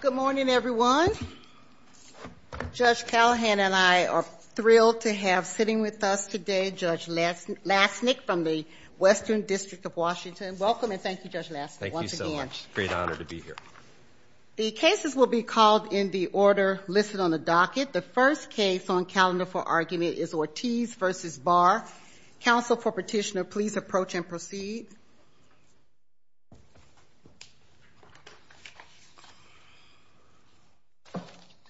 Good morning everyone. Judge Callahan and I are thrilled to have sitting with us today Judge Lassnick from the Western District of Washington. Welcome and thank you Judge Lassnick. Thank you so much. It's a great honor to be here. The cases will be called in the order listed on the docket. The first case on calendar for argument is Ortiz v. Barr. Counsel for petitioner please approach and proceed.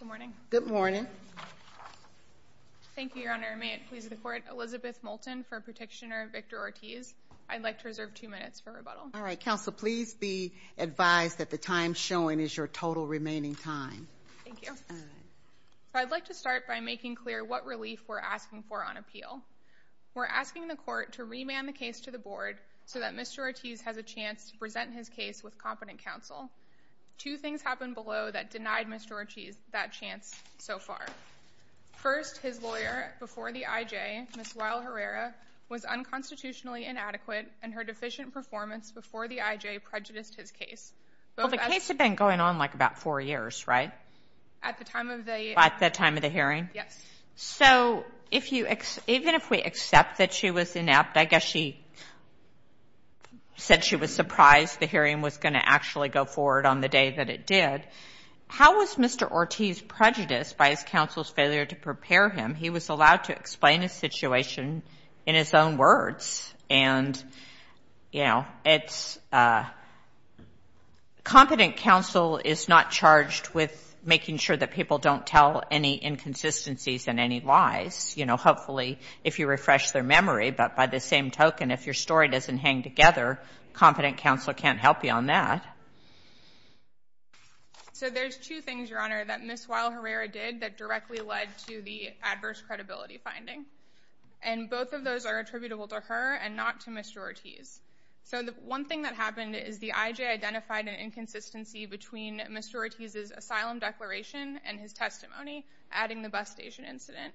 Good morning. Good morning. Thank you Your Honor. May it please the court. Elizabeth Moulton for petitioner Victor Ortiz. I'd like to reserve two minutes for rebuttal. All right. Counsel please be advised that the time showing is your total remaining time. Thank you. All right. So I'd like to start by making clear what relief we're asking for on appeal. We're asking the court to remand the case to the board so that Mr. Ortiz has a chance to present his case with competent counsel. Two things happened below that denied Mr. Ortiz that chance so far. First his lawyer before the I.J., Ms. Lyle Herrera was unconstitutionally inadequate and her deficient performance before the I.J. prejudiced his case. Well the case had been going on like about four years, right? At the time of the hearing. Yes. So even if we accept that she was inept, I guess she said she was surprised the hearing was going to actually go forward on the day that it did. How was Mr. Ortiz prejudiced by his counsel's failure to prepare him? He was allowed to explain his situation in his own words. And, you know, it's, competent counsel is not charged with making sure that people don't tell any inconsistencies and any lies. You know, hopefully if you refresh their memory, but by the same token, if your story doesn't hang together, competent counsel can't help you on that. So there's two things, Your Honor, that Ms. Lyle Herrera did that directly led to the adverse credibility finding. And both of those are attributable to her and not to Mr. Ortiz. So the one thing that happened is the IJ identified an inconsistency between Mr. Ortiz's asylum declaration and his testimony, adding the bus station incident.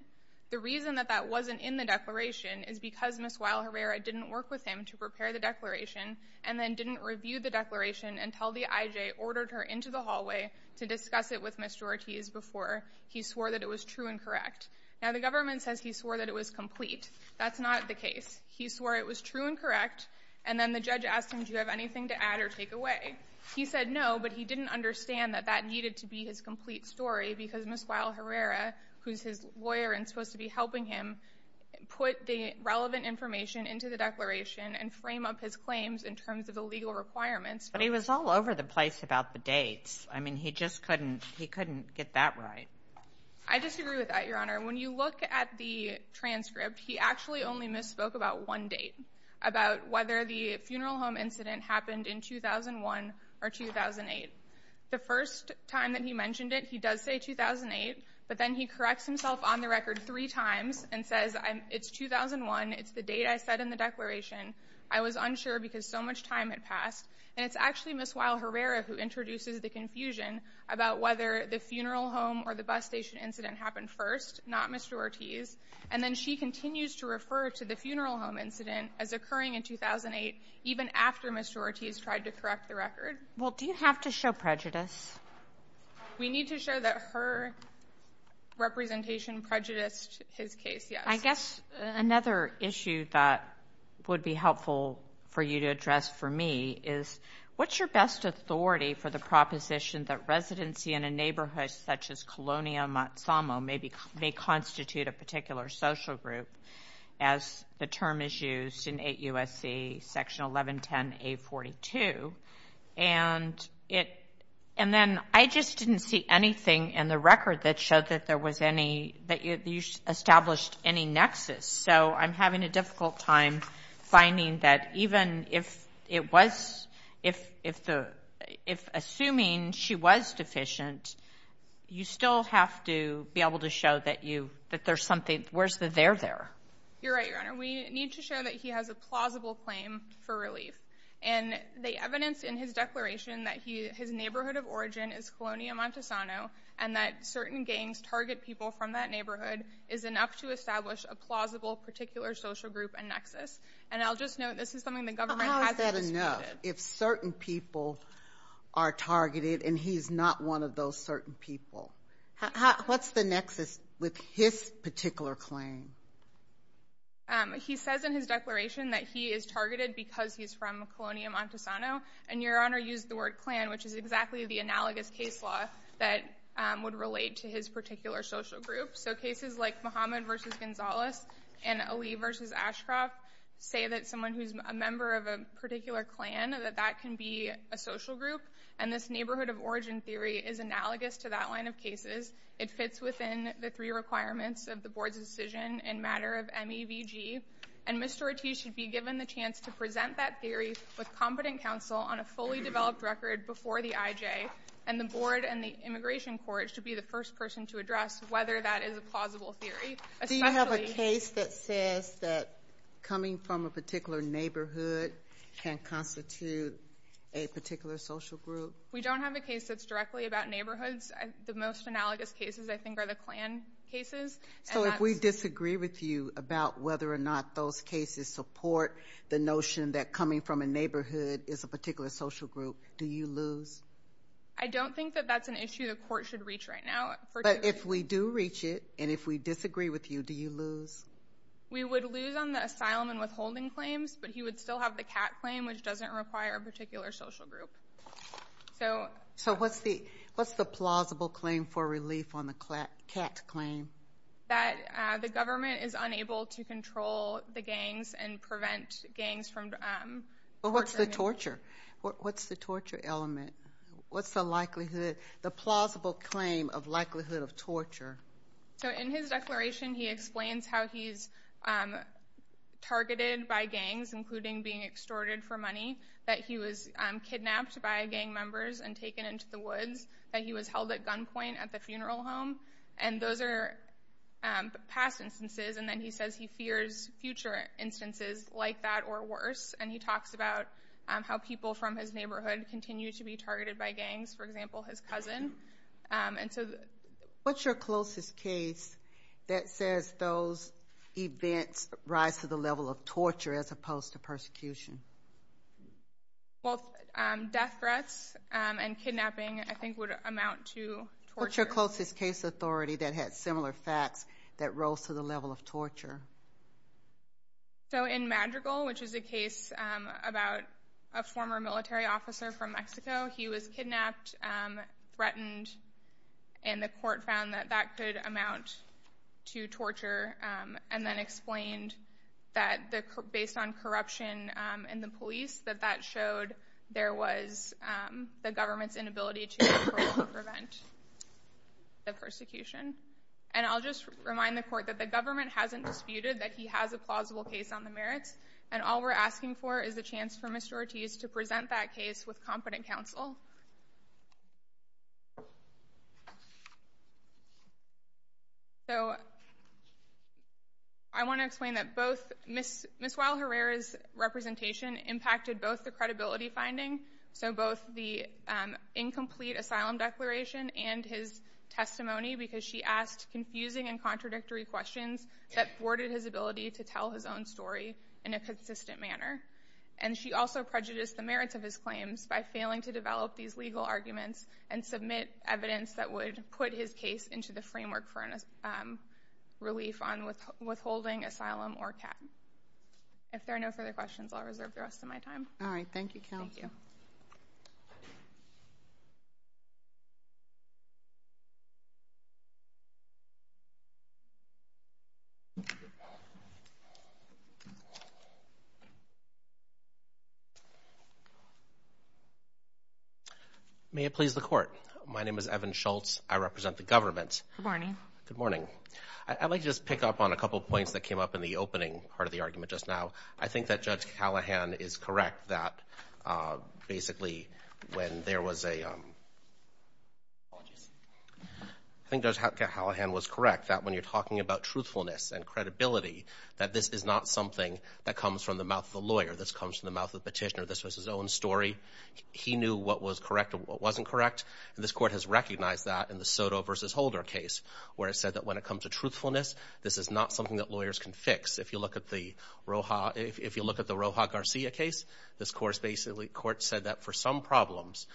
The reason that that wasn't in the declaration is because Ms. Lyle Herrera didn't work with him to prepare the declaration and then didn't review the declaration until the IJ ordered her into the hallway to discuss it with Mr. Ortiz before he swore that it was true and correct. Now, the government says he swore that it was complete. That's not the case. He swore it was true and correct, and then the judge asked him, do you have anything to add or take away? He said no, but he didn't understand that that needed to be his complete story because Ms. Lyle Herrera, who's his lawyer and supposed to be helping him, put the relevant information into the declaration and frame up his claims in terms of the legal requirements. But he was all over the place about the dates. I mean, he just couldn't get that right. I disagree with that, Your Honor. When you look at the transcript, he actually only misspoke about one date, about whether the funeral home incident happened in 2001 or 2008. The first time that he mentioned it, he does say 2008, but then he corrects himself on the record three times and says it's 2001, it's the date I said in the declaration, I was unsure because so much time had passed, and it's actually Ms. Lyle Herrera who introduces the confusion about whether the funeral home or the bus station incident happened first, not Mr. Ortiz, and then she continues to refer to the funeral home incident as occurring in 2008, even after Mr. Ortiz tried to correct the record. Well, do you have to show prejudice? We need to show that her representation prejudiced his case, yes. I guess another issue that would be helpful for you to address for me is what's your best authority for the proposition that residency in a neighborhood such as Colonial Matsumo may constitute a particular social group, as the term is used in 8 U.S.C. Section 1110A.42, and then I just didn't see anything in the record that showed that there was any, that you established any nexus, so I'm having a difficult time finding that even if it was, if assuming she was deficient, you still have to be able to show that you, that there's something, where's the there there? You're right, Your Honor. We need to show that he has a plausible claim for relief, and the evidence in his declaration that his neighborhood of origin is Colonial Matsumo, and that certain gangs target people from that neighborhood is enough to establish a plausible particular social group and nexus, and I'll just note this is something the government hasn't disputed. But how is that enough if certain people are targeted and he's not one of those certain people? What's the nexus with his particular claim? He says in his declaration that he is targeted because he's from Colonial Montesano, and Your Honor used the word clan, which is exactly the analogous case law that would relate to his particular social group. So cases like Mohammed v. Gonzalez and Ali v. Ashcroft say that someone who's a member of a particular clan, that that can be a social group, and this neighborhood of origin theory is analogous to that line of cases. It fits within the three requirements of the Board's decision in matter of MEVG, and Mr. Ortiz should be given the chance to present that theory with competent counsel on a fully developed record before the IJ, and the Board and the Immigration Court should be the first person to address whether that is a plausible theory. Do you have a case that says that coming from a particular neighborhood can constitute a particular social group? We don't have a case that's directly about neighborhoods. The most analogous cases, I think, are the clan cases. So if we disagree with you about whether or not those cases support the notion that coming from a neighborhood is a particular social group, do you lose? I don't think that that's an issue the court should reach right now. But if we do reach it, and if we disagree with you, do you lose? We would lose on the asylum and withholding claims, but he would still have the CAT claim, which doesn't require a particular social group. So what's the plausible claim for relief on the CAT claim? That the government is unable to control the gangs and prevent gangs from torturing them. What's the torture? What's the likelihood, the plausible claim of likelihood of torture? So in his declaration, he explains how he's targeted by gangs, including being extorted for money, that he was kidnapped by gang members and taken into the woods, that he was held at gunpoint at the funeral home. And those are past instances, and then he says he fears future instances like that or worse. And he talks about how people from his neighborhood continue to be targeted by gangs, for example, his cousin. And so... What's your closest case that says those events rise to the level of torture as opposed to persecution? Well, death threats and kidnapping, I think, would amount to torture. What's your closest case authority that had similar facts that rose to the level of torture? So in Madrigal, which is a case about a former military officer from Mexico, he was kidnapped, threatened, and the court found that that could amount to torture, and then explained that based on corruption in the police, that that showed there was the government's inability to control and prevent the persecution. And I'll just remind the court that the government hasn't disputed that he has a plausible case on the merits, and all we're asking for is a chance for Mr. Ortiz to present that case with competent counsel. So, I want to explain that both Ms. Weill-Herrera's representation impacted both the credibility of his own declaration and his testimony, because she asked confusing and contradictory questions that thwarted his ability to tell his own story in a consistent manner. And she also prejudiced the merits of his claims by failing to develop these legal arguments and submit evidence that would put his case into the framework for relief on withholding asylum or cap. If there are no further questions, I'll reserve the rest of my time. All right. Thank you, counsel. May it please the court. My name is Evan Schultz. I represent the government. Good morning. Good morning. I'd like to just pick up on a couple of points that came up in the opening part of the argument just now. I think that Judge Callahan is correct that when you're talking about truthfulness and credibility, that this is not something that comes from the mouth of the lawyer. This comes from the mouth of the petitioner. This was his own story. He knew what was correct and what wasn't correct, and this court has recognized that in the Soto v. Holder case, where it said that when it comes to truthfulness, this is not something that lawyers can fix. If you look at the Roja Garcia case, this court said that for some problems,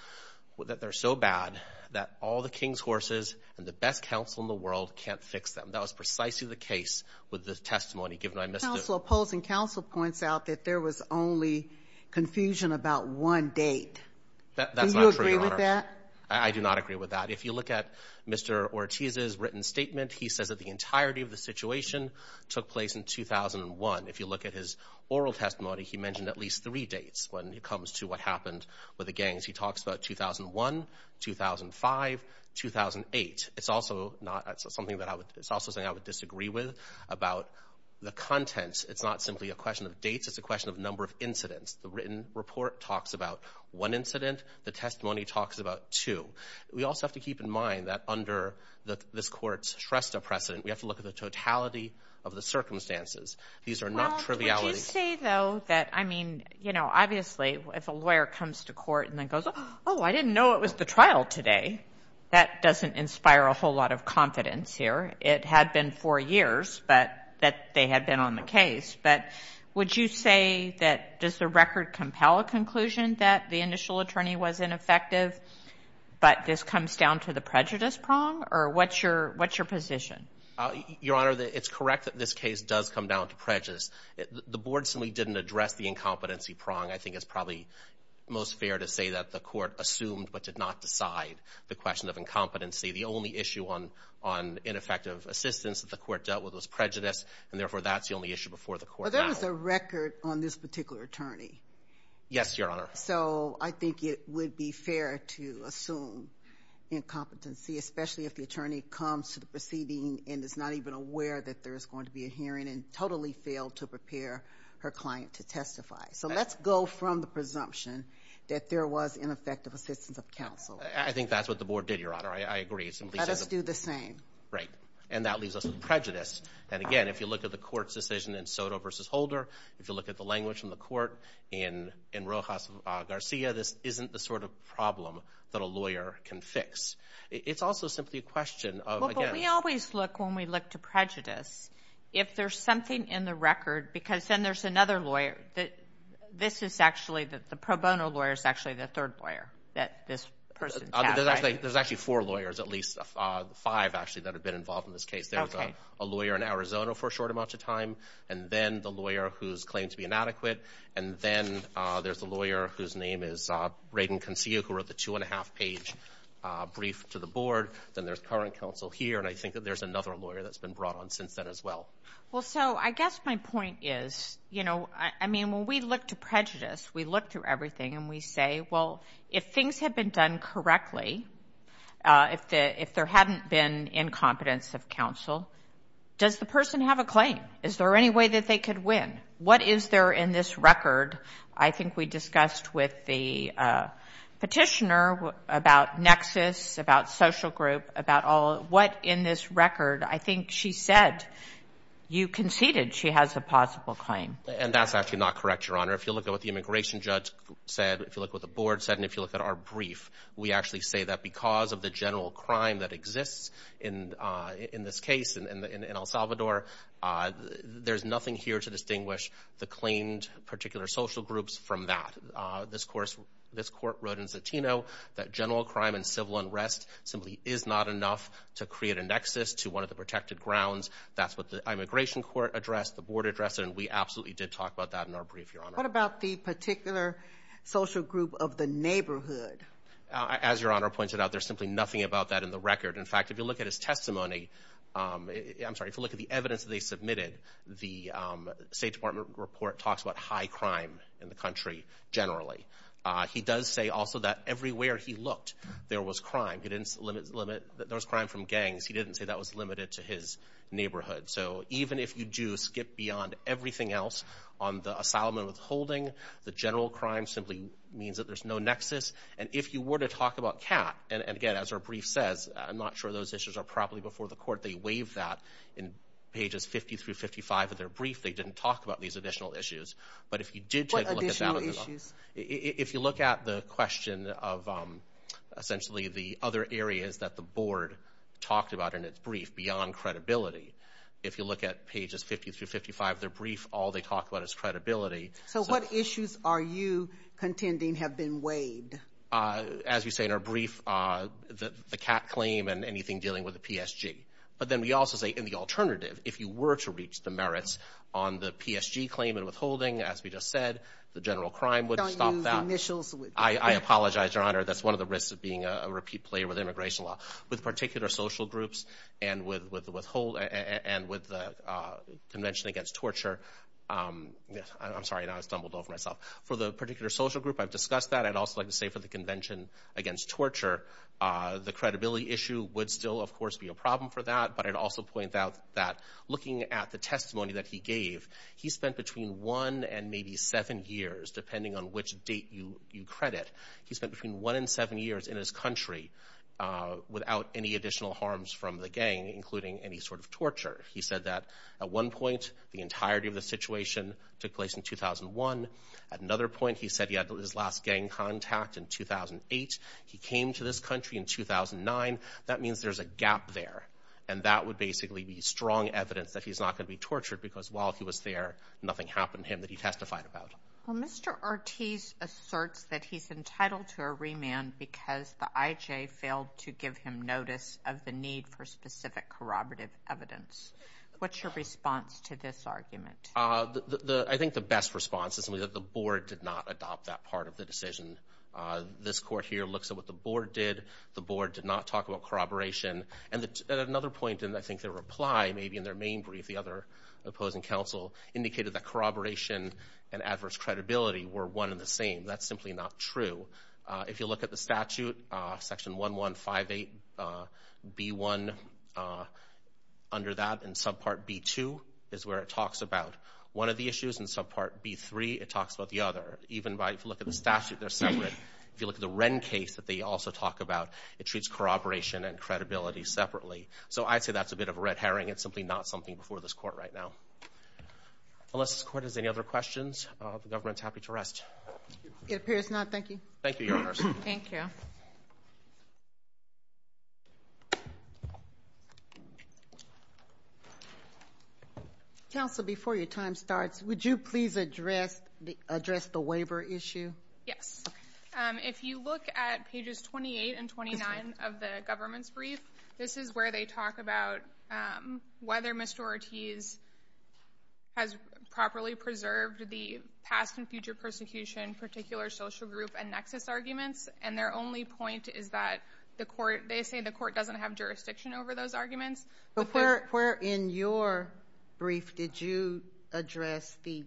that they're so bad that all the king's horses and the best counsel in the world can't fix them. That was precisely the case with this testimony, given I missed it. Counsel, opposing counsel points out that there was only confusion about one date. Do you agree with that? That's not true, Your Honor. I do not agree with that. If you look at Mr. Ortiz's written statement, he says that the entirety of the situation took place in 2001. If you look at his oral testimony, he mentioned at least three dates when it comes to what happened with the gangs. He talks about 2001, 2005, 2008. It's also something that I would disagree with about the contents. It's not simply a question of dates, it's a question of number of incidents. The written report talks about one incident. The testimony talks about two. We also have to keep in mind that under this court's Shrestha precedent, we have to look at the totality of the circumstances. These are not trivialities. Well, would you say, though, that, I mean, you know, obviously, if a lawyer comes to court and then goes, oh, I didn't know it was the trial today, that doesn't inspire a whole lot of confidence here. It had been four years that they had been on the case, but would you say that does the record compel a conclusion that the initial attorney was ineffective, but this comes down to the prejudice prong, or what's your position? Your Honor, it's correct that this case does come down to prejudice. The board simply didn't address the incompetency prong. I think it's probably most fair to say that the court assumed but did not decide the question of incompetency. The only issue on ineffective assistance that the court dealt with was prejudice, and therefore, that's the only issue before the court. Well, there was a record on this particular attorney. Yes, Your Honor. So I think it would be fair to assume incompetency, especially if the attorney comes to the proceeding and is not even aware that there is going to be a hearing and totally failed to prepare her client to testify. So let's go from the presumption that there was ineffective assistance of counsel. I think that's what the board did, Your Honor. I agree. Let us do the same. Right. And that leaves us with prejudice. And again, if you look at the court's decision in Soto v. Holder, if you look at the language from the court in Rojas Garcia, this isn't the sort of problem that a lawyer can fix. It's also simply a question of, again... Well, but we always look, when we look to prejudice, if there's something in the record because then there's another lawyer that... This is actually the pro bono lawyer is actually the third lawyer that this person testified. There's actually four lawyers, at least five actually, that have been involved in this case. There's a lawyer in Arizona for a short amount of time, and then the lawyer who's claimed to be inadequate, and then there's a lawyer whose name is Rayden Concio, who wrote the two-and-a-half-page brief to the board. Then there's current counsel here, and I think that there's another lawyer that's been brought on since then as well. Well, so I guess my point is, you know, I mean, when we look to prejudice, we look through everything and we say, well, if things had been done correctly, if there hadn't been incompetence of counsel, does the person have a claim? Is there any way that they could win? What is there in this record? I think we discussed with the petitioner about nexus, about social group, about all... What in this record? I think she said you conceded she has a possible claim. And that's actually not correct, Your Honor. If you look at what the immigration judge said, if you look at what the board said, and if you look at our brief, we actually say that because of the general crime that claimed particular social groups from that. This court wrote in Zatino that general crime and civil unrest simply is not enough to create a nexus to one of the protected grounds. That's what the immigration court addressed, the board addressed, and we absolutely did talk about that in our brief, Your Honor. What about the particular social group of the neighborhood? As Your Honor pointed out, there's simply nothing about that in the record. In fact, if you look at his testimony, I'm sorry, if you look at the evidence they submitted, the State Department report talks about high crime in the country generally. He does say also that everywhere he looked, there was crime. He didn't limit... There was crime from gangs. He didn't say that was limited to his neighborhood. So even if you do skip beyond everything else on the asylum and withholding, the general crime simply means that there's no nexus. And if you were to talk about CAT, and again, as our brief says, I'm not sure those issues are properly before the court, they waive that. In pages 50 through 55 of their brief, they didn't talk about these additional issues. But if you did take a look at that... What additional issues? If you look at the question of essentially the other areas that the board talked about in its brief beyond credibility, if you look at pages 50 through 55 of their brief, all they talk about is credibility. So what issues are you contending have been waived? As we say in our brief, the CAT claim and anything dealing with the PSG. But then we also say in the alternative, if you were to reach the merits on the PSG claim and withholding, as we just said, the general crime would stop that. I apologize, Your Honor. That's one of the risks of being a repeat player with immigration law. With particular social groups and with the convention against torture... I'm sorry, now I've stumbled over myself. For the particular social group, I've discussed that. I'd also like to say for the convention against torture, the credibility issue would still, of course, be a problem for that. But I'd also point out that looking at the testimony that he gave, he spent between one and maybe seven years, depending on which date you credit, he spent between one and seven years in his country without any additional harms from the gang, including any sort of torture. He said that at one point, the entirety of the situation took place in 2001. At another point, he said he had his last gang contact in 2008. He came to this country in 2009. That means there's a gap there. And that would basically be strong evidence that he's not going to be tortured because while he was there, nothing happened to him that he testified about. Well, Mr. Ortiz asserts that he's entitled to a remand because the IJ failed to give him notice of the need for specific corroborative evidence. What's your response to this argument? I think the best response is that the board did not adopt that part of the decision. This court here looks at what the board did. The board did not talk about corroboration. And at another point in, I think, their reply, maybe in their main brief, the other opposing counsel indicated that corroboration and adverse credibility were one and the same. That's simply not true. If you look at the statute, section 1158B1, under that, and subpart B2 is where it talks about one of the issues, and subpart B3, it talks about the other. Even if you look at the statute, they're separate. If you look at the Wren case that they also talk about, it treats corroboration and credibility separately. So I'd say that's a bit of a red herring. It's simply not something before this court right now. Unless this court has any other questions, the government's happy to rest. It appears not. Thank you. Thank you, Your Honors. Thank you. Counsel, before your time starts, would you please address the waiver issue? Yes. If you look at pages 28 and 29 of the government's brief, this is where they talk about whether Mr. Ortiz has properly preserved the past and future persecution, particular social group, and nexus arguments. And their only point is that the court, they say the court doesn't have jurisdiction over those arguments. But where in your brief did you address the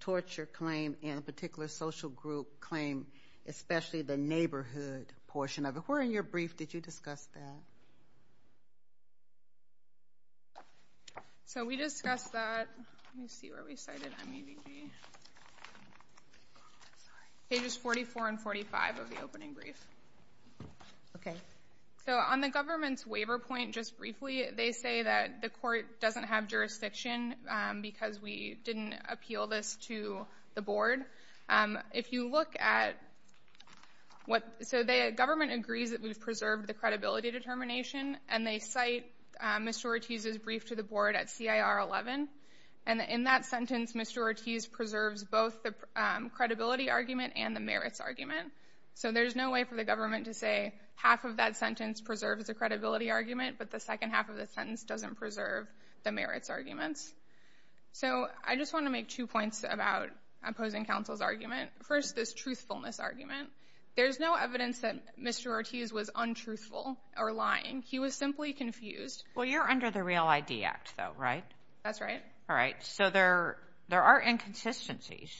torture claim and particular social group claim, especially the neighborhood portion of it? Where in your brief did you discuss that? So we discussed that, let me see where we cited MEDV, pages 44 and 45 of the opening brief. Okay. So on the government's waiver point, just briefly, they say that the court doesn't have jurisdiction because we didn't appeal this to the board. If you look at what, so the government agrees that we've preserved the credibility determination, and they cite Mr. Ortiz's brief to the board at CIR 11. And in that sentence, Mr. Ortiz preserves both the credibility argument and the merits argument. So there's no way for the government to say half of that sentence preserves the credibility argument, but the second half of the sentence doesn't preserve the merits arguments. So I just want to make two points about opposing counsel's argument. First, this truthfulness argument. There's no evidence that Mr. Ortiz was untruthful or lying. He was simply confused. Well, you're under the Real ID Act though, right? That's right. All right. So there are inconsistencies.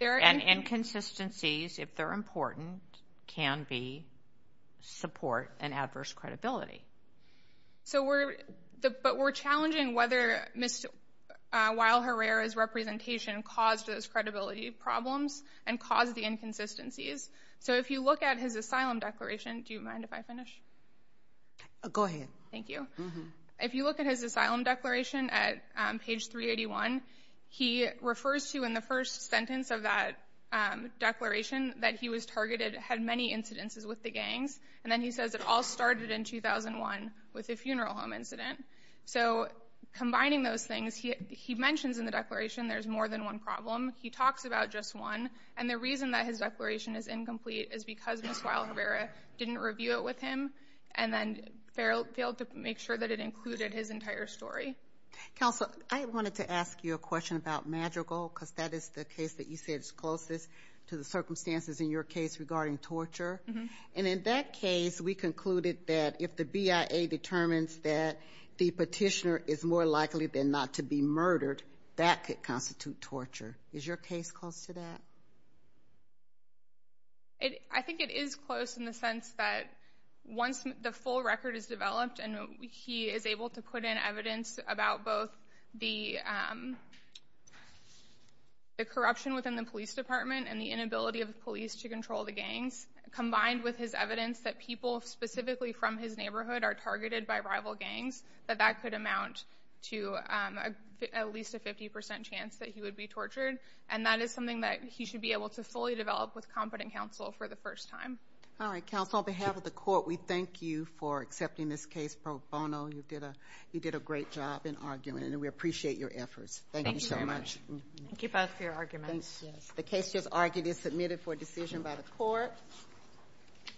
There are inconsistencies. And inconsistencies, if they're important, can be support and adverse credibility. So we're, but we're challenging whether Ms. Weill-Herrera's representation caused those credibility problems and caused the inconsistencies. So if you look at his asylum declaration, do you mind if I finish? Go ahead. Thank you. If you look at his asylum declaration at page 381, he refers to in the first sentence of that declaration that he was targeted, had many incidences with the gangs. And then he says it all started in 2001 with a funeral home incident. So combining those things, he mentions in the declaration there's more than one problem. He talks about just one. And the reason that his declaration is incomplete is because Ms. Weill-Herrera didn't review it with him and then failed to make sure that it included his entire story. Counsel, I wanted to ask you a question about Madrigal, because that is the case that you said is closest to the circumstances in your case regarding torture. And in that case, we concluded that if the BIA determines that the petitioner is more likely than not to be murdered, that could constitute torture. Is your case close to that? I think it is close in the sense that once the full record is developed and he is able to put in evidence about both the corruption within the police department and the inability of the police to control the gangs, combined with his evidence that people specifically from his neighborhood are targeted by rival gangs, that that could amount to at least a 50 percent chance that he would be tortured. And that is something that he should be able to fully develop with competent counsel for the first time. All right, counsel. On behalf of the court, we thank you for accepting this case pro bono. You did a great job in arguing it. And we appreciate your efforts. Thank you so much. Thank you very much. Thank you both for your arguments. The case just argued is submitted for decision by the court.